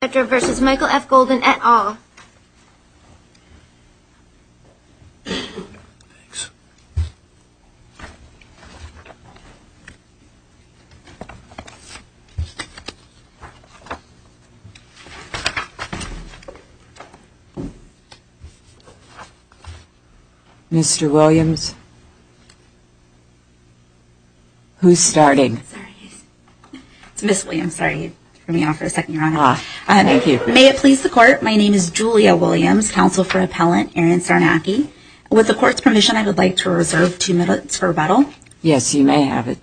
v. Michael F. Golden, et al. Mr. Williams, who's starting? May it please the Court, my name is Julia Williams, counsel for Appellant Aaron Sarnacki. With the Court's permission, I would like to reserve two minutes for rebuttal. Yes, you may have it.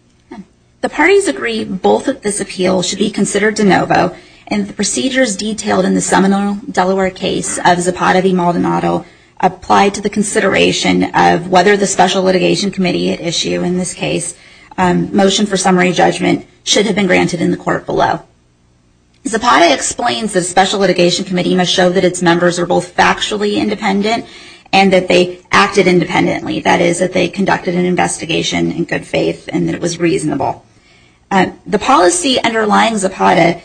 The parties agree both of this appeal should be considered de novo, and the procedures detailed in the Seminole, Delaware case of Zapata v. Maldonado apply to the consideration of whether the Special Litigation Committee issue, in this case, motion for summary judgment should have been granted in the Court below. Zapata explains that the Special Litigation Committee must show that its members are both factually independent and that they acted independently, that is, that they conducted an investigation in good faith and that it was reasonable. The policy underlying Zapata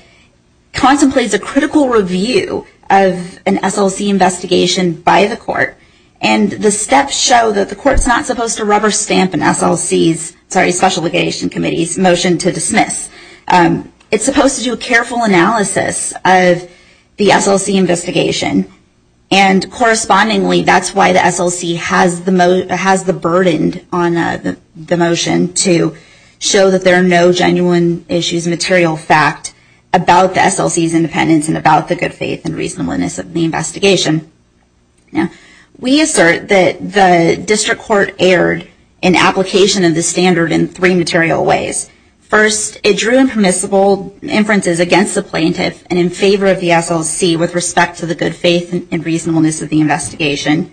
contemplates a critical review of an SLC investigation by the Court, and the steps show that the Court's not supposed to rubber stamp a Special Litigation Committee's motion to dismiss. It's supposed to do a careful analysis of the SLC investigation, and correspondingly, that's why the SLC has the burden on the motion to show that there are no genuine issues, material fact, about the SLC's independence and about the good faith and reasonableness of the investigation. We assert that the District Court erred in application of this standard in three material ways. First, it drew impermissible inferences against the plaintiff and in favor of the SLC with respect to the good faith and reasonableness of the investigation.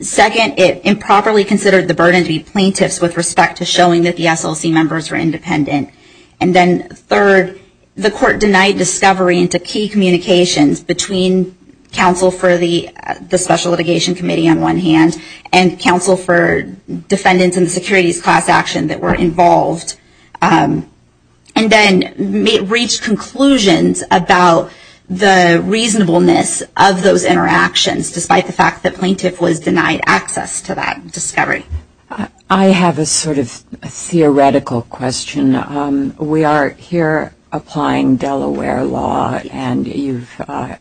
Second, it improperly considered the burden to be plaintiff's with respect to showing that the SLC members were independent. And then third, the Court denied discovery into key communications between counsel for the Special Litigation Committee on one hand, and counsel for defendants in the securities class action that were involved, and then reached conclusions about the reasonableness of those interactions, despite the fact that plaintiff was denied access to that discovery. I have a sort of theoretical question. We are here applying Delaware law, and you've,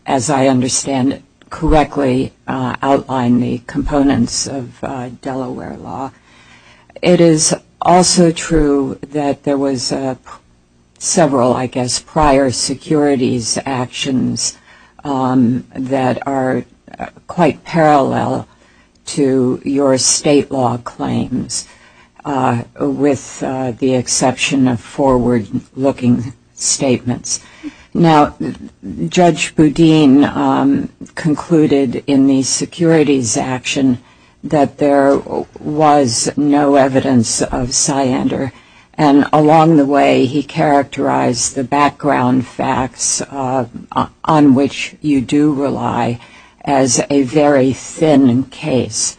as I understand it correctly, outlined the components of Delaware law. It is also true that there was several, I guess, prior securities actions that are, quite parallel to your state law claims, with the exception of forward-looking statements. Now, Judge Boudin concluded in the securities action that there was no evidence of cyander, and along the way he characterized the background facts on which you do rely as a rule of law. Now, this is a very, very thin case,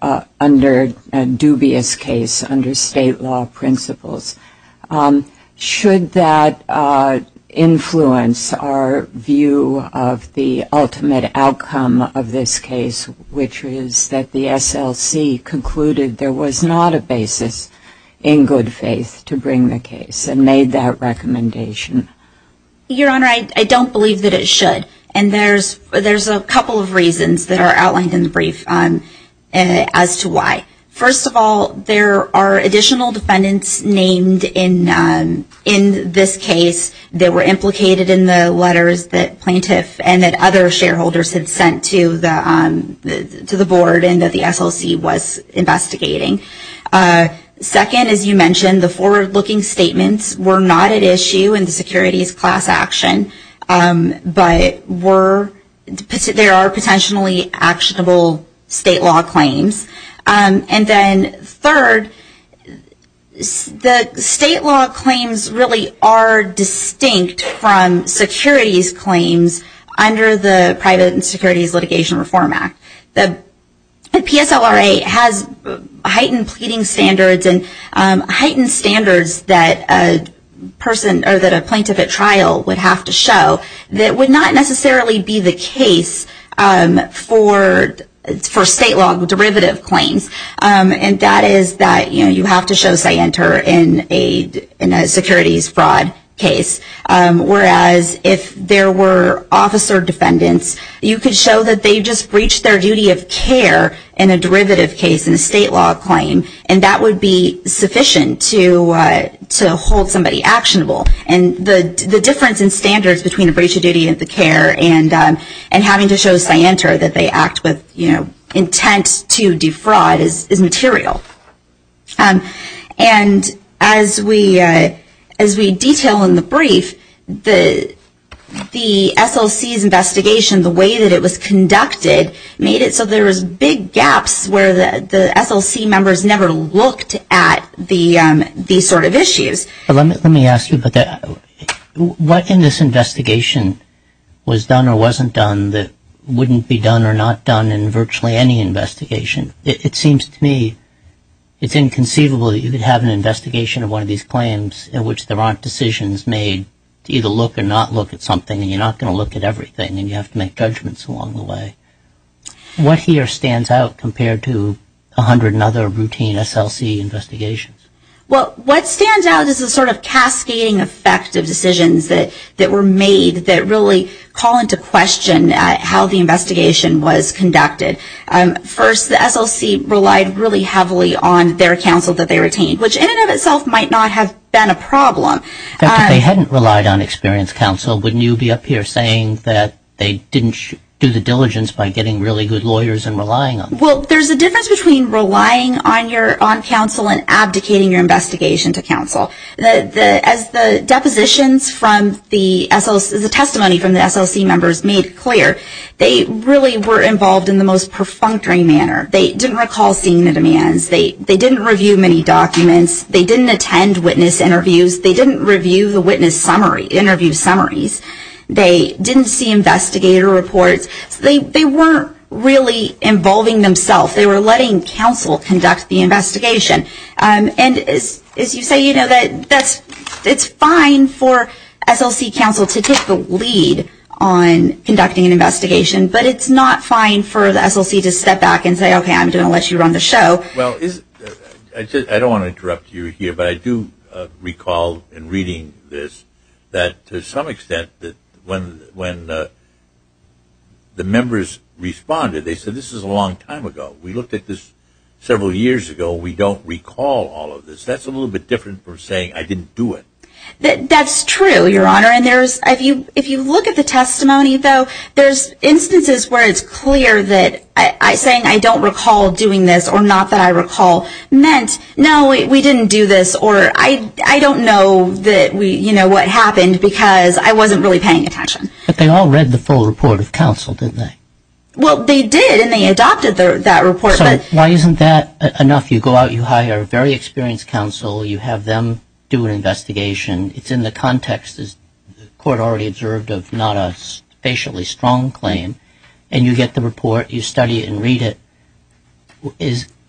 a dubious case under state law principles. Should that influence our view of the ultimate outcome of this case, which is that the SLC concluded there was not a basis in good faith to bring the case and made that recommendation? Your Honor, I don't believe that it should, and there's a couple of reasons that are outlined in the brief as to why. First of all, there are additional defendants named in this case that were implicated in the letters that plaintiff and that other shareholders had sent to the board and that the SLC was investigating. Second, as you mentioned, the forward-looking statements were not at issue in the securities class action, but there are potentially actionable state law claims. And then third, the state law claims really are distinct from securities claims under the Private and Securities Litigation Reform Act. The PSLRA has heightened pleading standards and heightened standards that a plaintiff at trial would have to show that would not necessarily be the case for state law derivative claims, and that is that you have to show cyander in a securities fraud case. Whereas if there were officer defendants, you could show that they just breached their duty of care in a derivative case in a state law claim, and that would be sufficient to hold somebody actionable. And the difference in standards between a breach of duty of care and having to show cyander that they act with intent to defraud is material. And as we detail in the brief, the SLC's investigation, the way that it was conducted, made it so there was big gaps where the SLC members never looked at these sort of issues. Let me ask you, what in this investigation was done or wasn't done that wouldn't be done or not done in virtually any investigation? It seems to me it's inconceivable that you could have an investigation of one of these claims in which there aren't decisions made to either look or not look at something, and you're not going to look at everything, and you have to make judgments along the way. What here stands out compared to a hundred and other routine SLC investigations? Well, what stands out is the sort of cascading effect of decisions that were made that really call into question how the investigation was conducted. First, the SLC relied really heavily on their counsel that they retained, which in and of itself might not have been a problem. In fact, if they hadn't relied on experienced counsel, wouldn't you be up here saying that they didn't do the diligence by getting really good lawyers and relying on them? Well, there's a difference between relying on counsel and abdicating your investigation to counsel. As the depositions from the SLC, the testimony from the SLC members made clear, they really were involved in the most critical areas of the investigation. They were involved in the most perfunctory manner. They didn't recall seeing the demands. They didn't review many documents. They didn't attend witness interviews. They didn't review the witness interview summaries. They didn't see investigator reports. They weren't really involving themselves. They were letting counsel conduct the investigation. And as you say, you know, it's fine for SLC counsel to take the lead on conducting an investigation, but it's not fine for the SLC to step back and say, okay, I'm going to let you run the show. Well, I don't want to interrupt you here, but I do recall in reading this that to some extent, when the members responded, they said this is a long time ago. We looked at this several years ago. We don't recall all of this. That's a little bit different from saying I didn't do it. That's true, Your Honor, and if you look at the testimony, though, there's instances where it's clear that saying I don't recall doing this or not that I recall meant, no, we didn't do this or I don't know what happened because I wasn't really involved. But they all read the full report of counsel, didn't they? Well, they did, and they adopted that report. So why isn't that enough? You go out, you hire a very experienced counsel, you have them do an investigation. It's in the context, as the Court already observed, of not a facially strong claim. And you get the report, you study it and read it.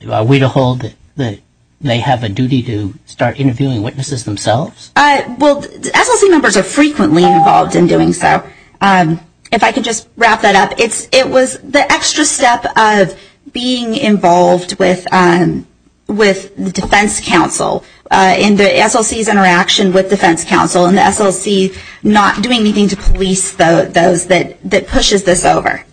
Are we to hold that they have a duty to start interviewing witnesses themselves? Well, SLC members are frequently involved in doing so. If I could just wrap that up, it was the extra step of being involved with defense counsel in the SLC's interaction with defense counsel and the SLC not doing anything to police those that pushes this over.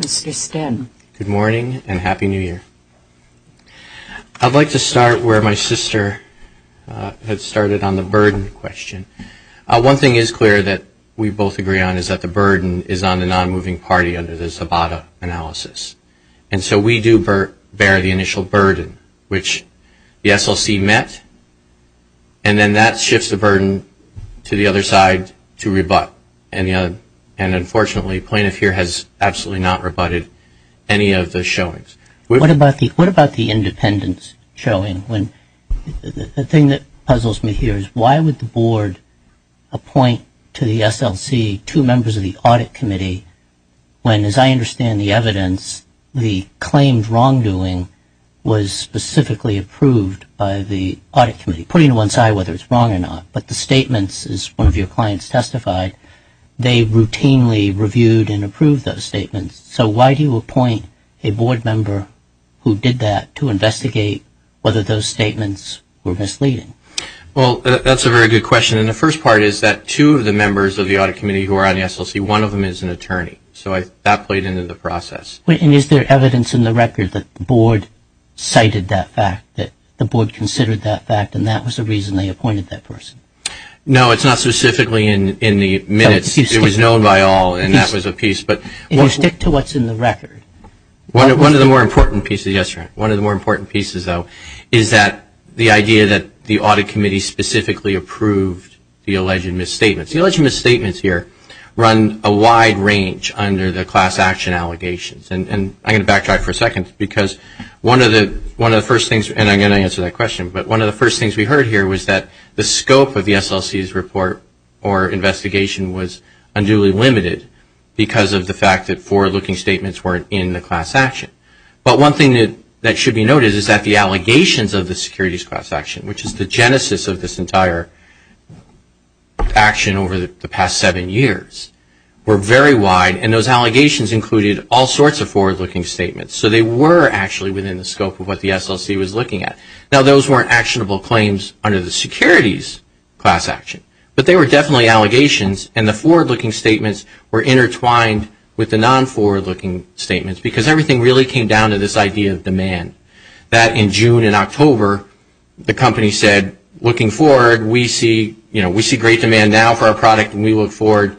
Mr. Sten. Good morning and Happy New Year. I'd like to start where my sister had started on the burden question. One thing is clear that we both agree on is that the burden is on the non-moving party under the Zabata analysis. And so we do bear the initial burden, which the SLC met, and then that shifts the burden to the other side to rebut. And unfortunately, plaintiff here has absolutely not rebutted any of the showings. What about the independence showing? The thing that puzzles me here is why would the Board appoint to the SLC two members of the Audit Committee when, as I understand the evidence, the claimed wrongdoing was specifically approved by the Audit Committee, putting to one side whether it's wrong or not, but the statements, as one of your clients testified, they routinely reviewed and approved those statements. So why do you appoint a Board member who did that to investigate whether those statements were misleading? Well, that's a very good question. And the first part is that two of the members of the Audit Committee who are on the SLC, one of them is an attorney. So that played into the process. And is there evidence in the record that the Board cited that fact, that the Board considered that fact, and that was the reason they appointed that person? No, it's not specifically in the minutes. It was known by all, and that was a piece. If you stick to what's in the record. One of the more important pieces, yes, one of the more important pieces, though, is that the idea that the Audit Committee specifically approved the alleged misstatements. The alleged misstatements here run a wide range under the class action allegations. And I'm going to backtrack for a second because one of the first things, and I'm going to answer that question, but one of the first things we heard here was that the scope of the SLC's report or investigation was unduly limited because of the fact that forward-looking statements weren't in the class action. But one thing that should be noted is that the allegations of the securities class action, which is the genesis of this entire action over the past seven years, were very wide, and those allegations included all sorts of misstatements that were actually within the scope of what the SLC was looking at. Now, those weren't actionable claims under the securities class action, but they were definitely allegations, and the forward-looking statements were intertwined with the non-forward-looking statements because everything really came down to this idea of demand. That in June and October, the company said, looking forward, we see great demand now for our product, and we look forward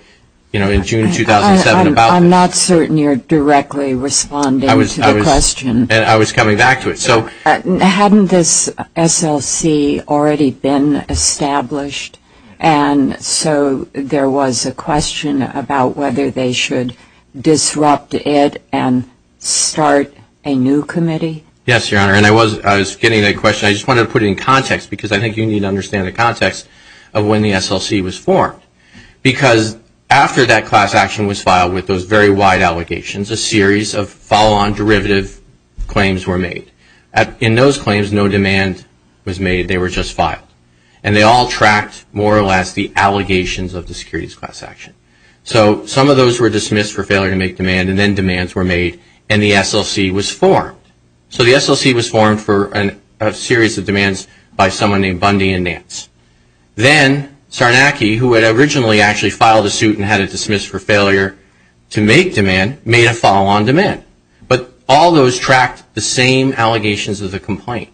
in June 2007 about this. I'm certain you're directly responding to the question. I was coming back to it. Hadn't this SLC already been established, and so there was a question about whether they should disrupt it and start a new committee? Yes, Your Honor, and I was getting that question. I just wanted to put it in context because I think you need to understand the context of when the SLC was formed because after that class action was filed with those very wide allegations, a series of follow-on derivative claims were made. In those claims, no demand was made. They were just filed, and they all tracked more or less the allegations of the securities class action. So some of those were dismissed for failure to make demand, and then demands were made, and the SLC was formed. So the SLC was formed for a series of demands by someone named Bundy and Nance. Then Sarnacki, who had originally actually filed a suit and had it dismissed for failure to make demand, made a follow-on demand. But all those tracked the same allegations of the complaint,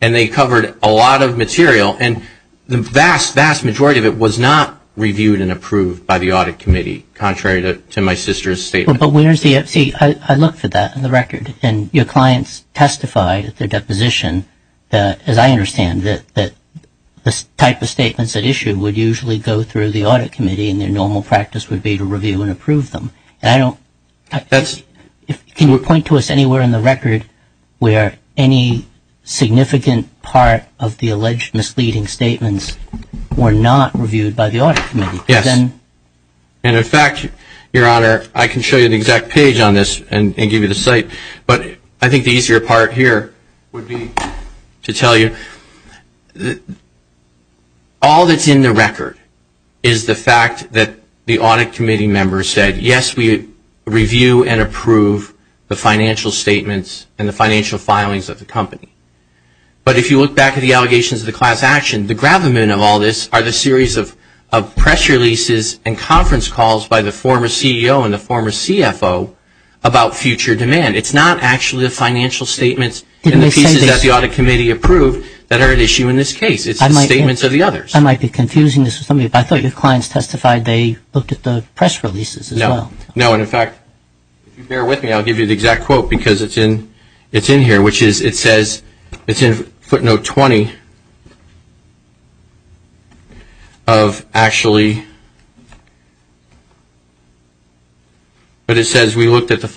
and they covered a lot of material, and the vast, vast majority of it was not reviewed and approved by the Audit Committee, contrary to my sister's statement. But where's the, see, I looked for that in the record, and your clients testified at their deposition that, as I said, the type of statements at issue would usually go through the Audit Committee, and their normal practice would be to review and approve them. And I don't, can you point to us anywhere in the record where any significant part of the alleged misleading statements were not reviewed by the Audit Committee? Yes. And in fact, Your Honor, I can show you the exact page on this and give you the site, but I think the easier part here would be to tell you that all that's in the record is the fact that the Audit Committee members said, yes, we review and approve the financial statements and the financial filings of the company. But if you look back at the allegations of the class action, the gravamen of all this are the series of press releases and conference calls by the former CEO and the former CFO about future demand. It's not actually the financial statements and the pieces that the Audit Committee approved that are at issue in this case. It's the statements of the others. I might be confusing this with something, but I thought your clients testified they looked at the press releases as well. No, and in fact, if you bear with me, I'll give you the exact quote because it's in here, which is, it says, it's in footnote 20 of actually, but it says we looked at the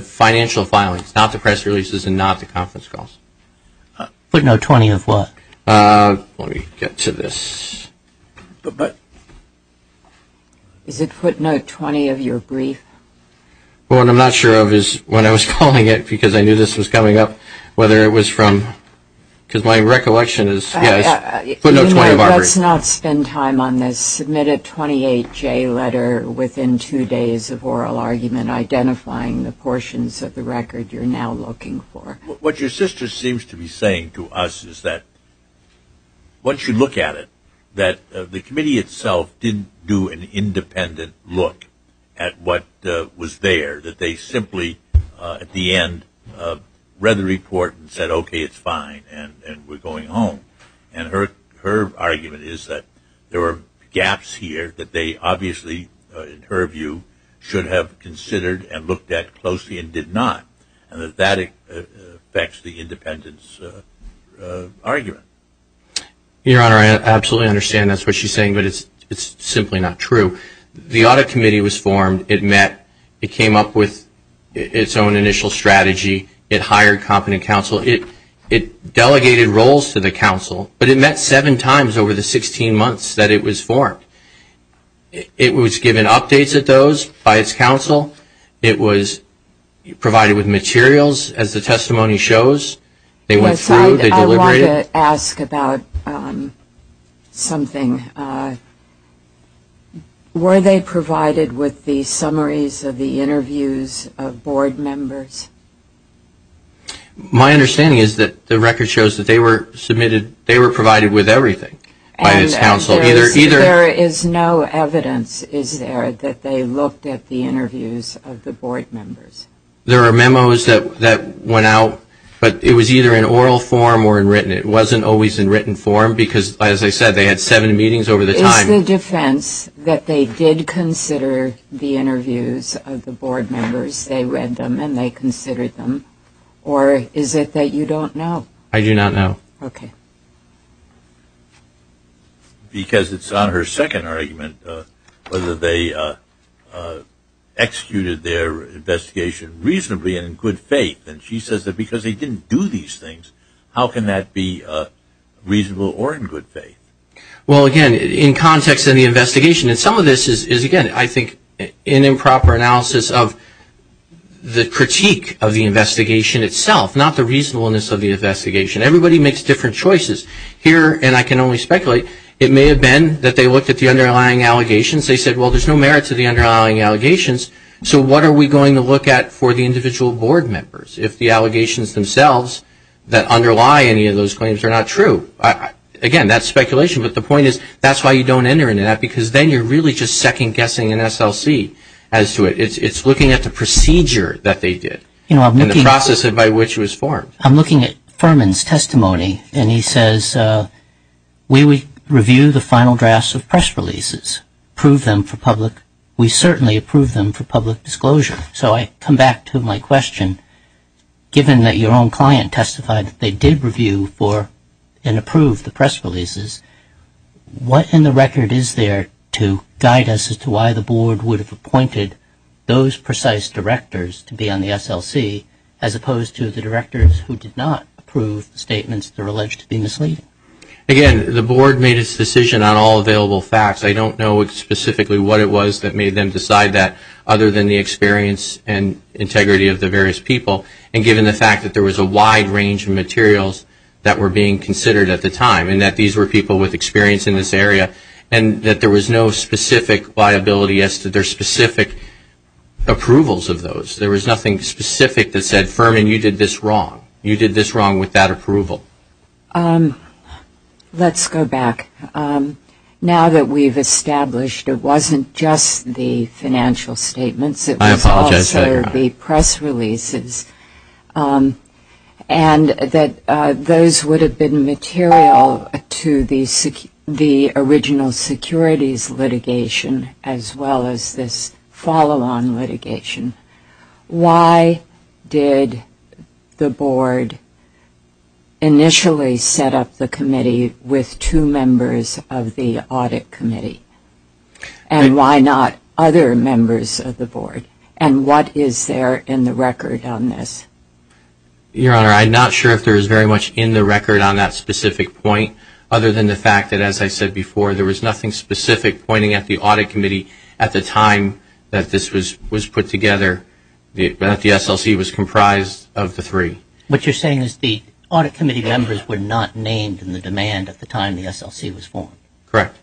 financial filings, not the press calls. Footnote 20 of what? Let me get to this. Is it footnote 20 of your brief? Well, what I'm not sure of is when I was calling it, because I knew this was coming up, whether it was from, because my recollection is, yes, footnote 20 of ours. Let's not spend time on this. Submit a 28-J letter within two days of oral argument identifying the portions of the record you're now looking for. What your sister seems to be saying to us is that once you look at it, that the committee itself didn't do an independent look at what was there, that they simply, at the end, read the report and said, okay, it's fine, and we're going home. And her argument is that there were gaps here that they obviously, in her view, should have considered and did not, and that that affects the independence argument. Your Honor, I absolutely understand that's what she's saying, but it's simply not true. The audit committee was formed. It met. It came up with its own initial strategy. It hired competent counsel. It delegated roles to the counsel, but it met seven times over the 16 months that it was formed. It was given updates at those by its counsel. It was provided with materials, as the testimony shows. They went through. They deliberated. I want to ask about something. Were they provided with the summaries of the interviews of board members? My understanding is that the record shows that they were submitted, they were provided with everything by its counsel. There is no evidence, is there, that they looked at the interviews of the board members? There are memos that went out, but it was either in oral form or in written. It wasn't always in written form because, as I said, they had seven meetings over the time. Is the defense that they did consider the interviews of the board members, they read them and they considered them, or is it that you don't know? I do not know. Okay. Because it's on her second argument whether they executed their investigation reasonably and in good faith. And she says that because they didn't do these things, how can that be reasonable or in good faith? Well, again, in context of the investigation, and some of this is, again, I think an improper analysis of the critique of the investigation itself, not the reasonableness of the investigation. Everybody makes different choices. Here, and I can only speculate, it may have been that they looked at the underlying allegations. They said, well, there's no merit to the underlying allegations, so what are we going to look at for the individual board members if the allegations themselves that underlie any of those claims are not true? Again, that's speculation, but the point is that's why you don't enter into that because then you're really just second-guessing an SLC as to it. It's looking at the procedure that they did and the process by which it was formed. I'm looking at Furman's testimony, and he says we review the final drafts of press releases, prove them for public. We certainly approve them for public disclosure. So I come back to my question. Given that your own client testified that they did review for and approve the press releases, what in the record is there to guide us as to why the board would have appointed those precise directors to be on the SLC as opposed to the directors who did not approve statements that are alleged to be misleading? Again, the board made its decision on all available facts. I don't know specifically what it was that made them decide that other than the experience and integrity of the various people and given the fact that there was a wide range of materials that were being considered at the time and that these were people with experience in this area and that there was no specific liability as to their specific approvals of those. There was nothing specific that said, Furman, you did this wrong with that approval. Let's go back. Now that we've established it wasn't just the financial statements, it was also the press releases. And that those would have been material to the original securities litigation as well as this follow-on litigation. Why did the board initially set up the committee with two members of the audit committee? And why not other members of the board? And what is there in the record on this? Your Honor, I'm not sure if there is very much in the record on that specific point other than the fact that, as I said before, there was nothing specific pointing at the audit committee at the time that this was put together but that the SLC was comprised of the three. What you're saying is the audit committee members were not named in the demand at the time the SLC was formed. Correct.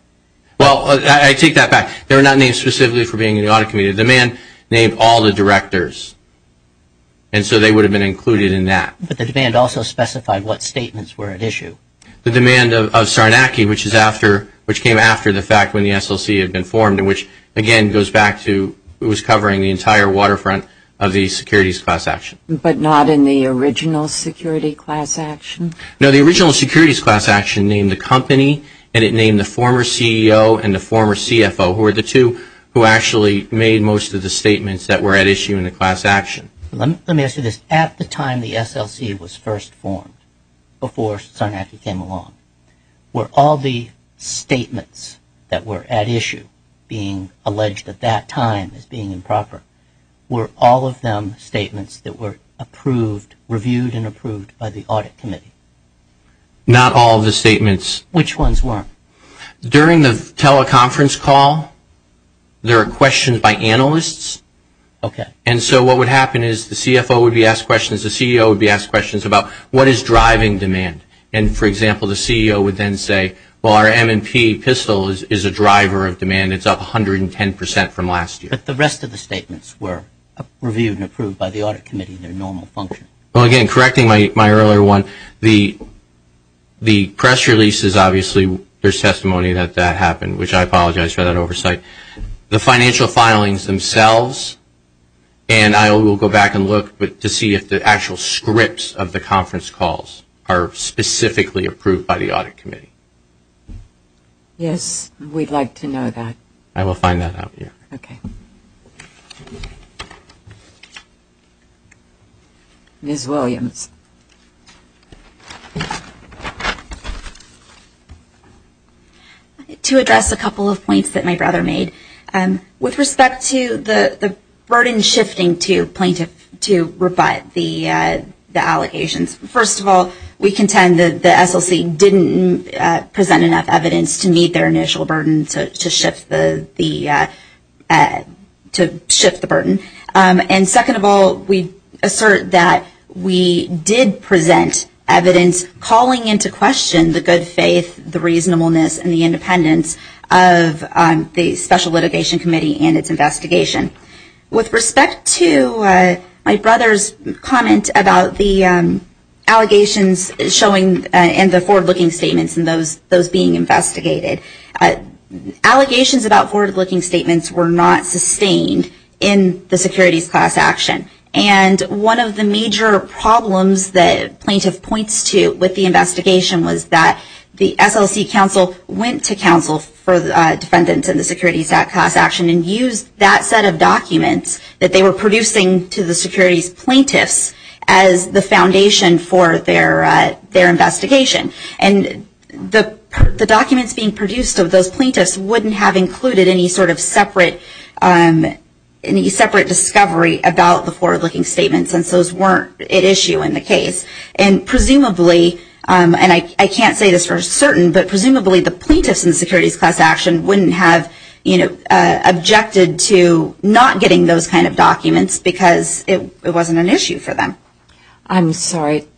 Well, I take that back. They were not named specifically for being in the audit committee. The man named all the directors and so they would have been included in that. But the demand also specified what statements were at issue. The demand of Sarnacki, which is after, which came after the fact when the SLC had been formed and which, again, goes back to was covering the entire waterfront of the securities class action. But not in the original security class action? No, the original securities class action named the company and it named the former CEO and the former CFO, who were the two who actually made most of the statements that were at issue in the class action. Let me ask you this. At the time the SLC was first formed, before Sarnacki came along, were all the statements that were at issue being improper, were all of them statements that were approved, reviewed and approved by the audit committee? Not all the statements. Which ones were? During the teleconference call, there are questions by analysts. Okay. And so what would happen is the CFO would be asked questions, the CEO would be asked questions about what is driving demand? And, for example, the CEO would then say well, our M&P pistol is a driver of demand. It's up 110% from last year. But the rest of the statements were reviewed and approved by the audit committee in their normal function? Well, again, correcting my earlier one, the press releases, obviously, there's testimony that that happened, which I apologize for that oversight. The financial filings themselves, and I will go back and look to see if the actual scripts of the conference calls are specifically approved by the audit committee. Yes, we'd like to know that. I will find that out. Ms. Williams. To address a couple of points that my brother made, with respect to the burden shifting to plaintiffs to rebut the allegations, first of all, we contend that the SLC didn't present enough evidence to meet their initial burden to shift the burden. And, second of all, we assert that we did present evidence calling into question the good faith, the reasonableness, and the independence of the Special Litigation Committee and its investigation. With respect to my brother's comment about the allegations showing, and the forward-looking statements and those being investigated, allegations about forward-looking statements were not sustained in the securities class action. And one of the major problems that plaintiff points to with the investigation was that the SLC counsel went to counsel for defendants in the securities class action and used that set of documents that they were producing to the securities plaintiffs as the foundation for their investigation. And the documents being produced of those plaintiffs wouldn't have included any sort of separate discovery about the forward-looking statements since those weren't at issue in the case. And presumably, and I can't say this for certain, but presumably the plaintiffs in the securities class action wouldn't have objected to not getting those kind of documents because it wasn't an issue for them. I'm sorry,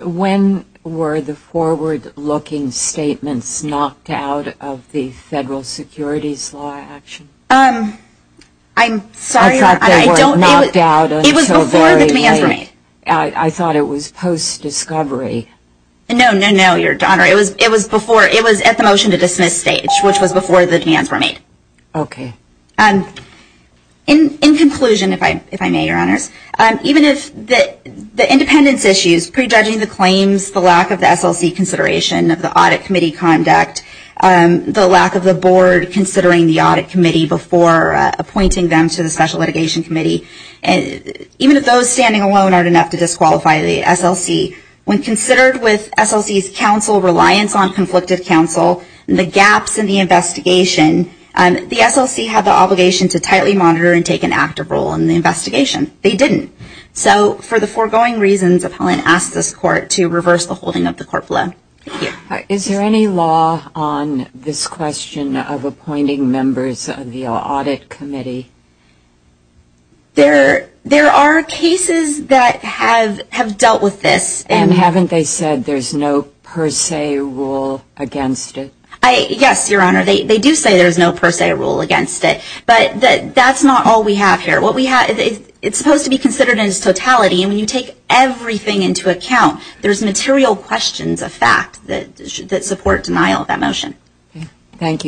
when were the forward-looking statements knocked out of the federal securities law action? I'm sorry, Your Honor, I don't It was before the demands were made. I thought it was post-discovery. No, no, no, Your Honor. It was at the motion to dismiss stage, which was before the demands were made. Okay. In conclusion, if I may, Your Honor, even if the independence issues, prejudging the claims, the lack of the SLC consideration of the audit committee conduct, the lack of the board considering the audit committee before appointing them to the Special Litigation Committee, even if those standing alone aren't enough to disqualify the SLC, when considered with SLC's counsel reliance on conflicted counsel, the gaps in the investigation, the SLC had the obligation to tightly monitor and take an active role in the investigation. They didn't. So for the foregoing reasons, appellant asked this court to reverse the holding of the court below. Is there any law on this question of appointing members of the audit committee? There are cases that have dealt with this. And haven't they said there's no per se rule against it? Yes, Your Honor, they do say there's no per se rule against it. But that's not all we have here. It's supposed to be considered as totality. And when you take everything into account, there's material questions of fact that support denial of that motion. Thank you.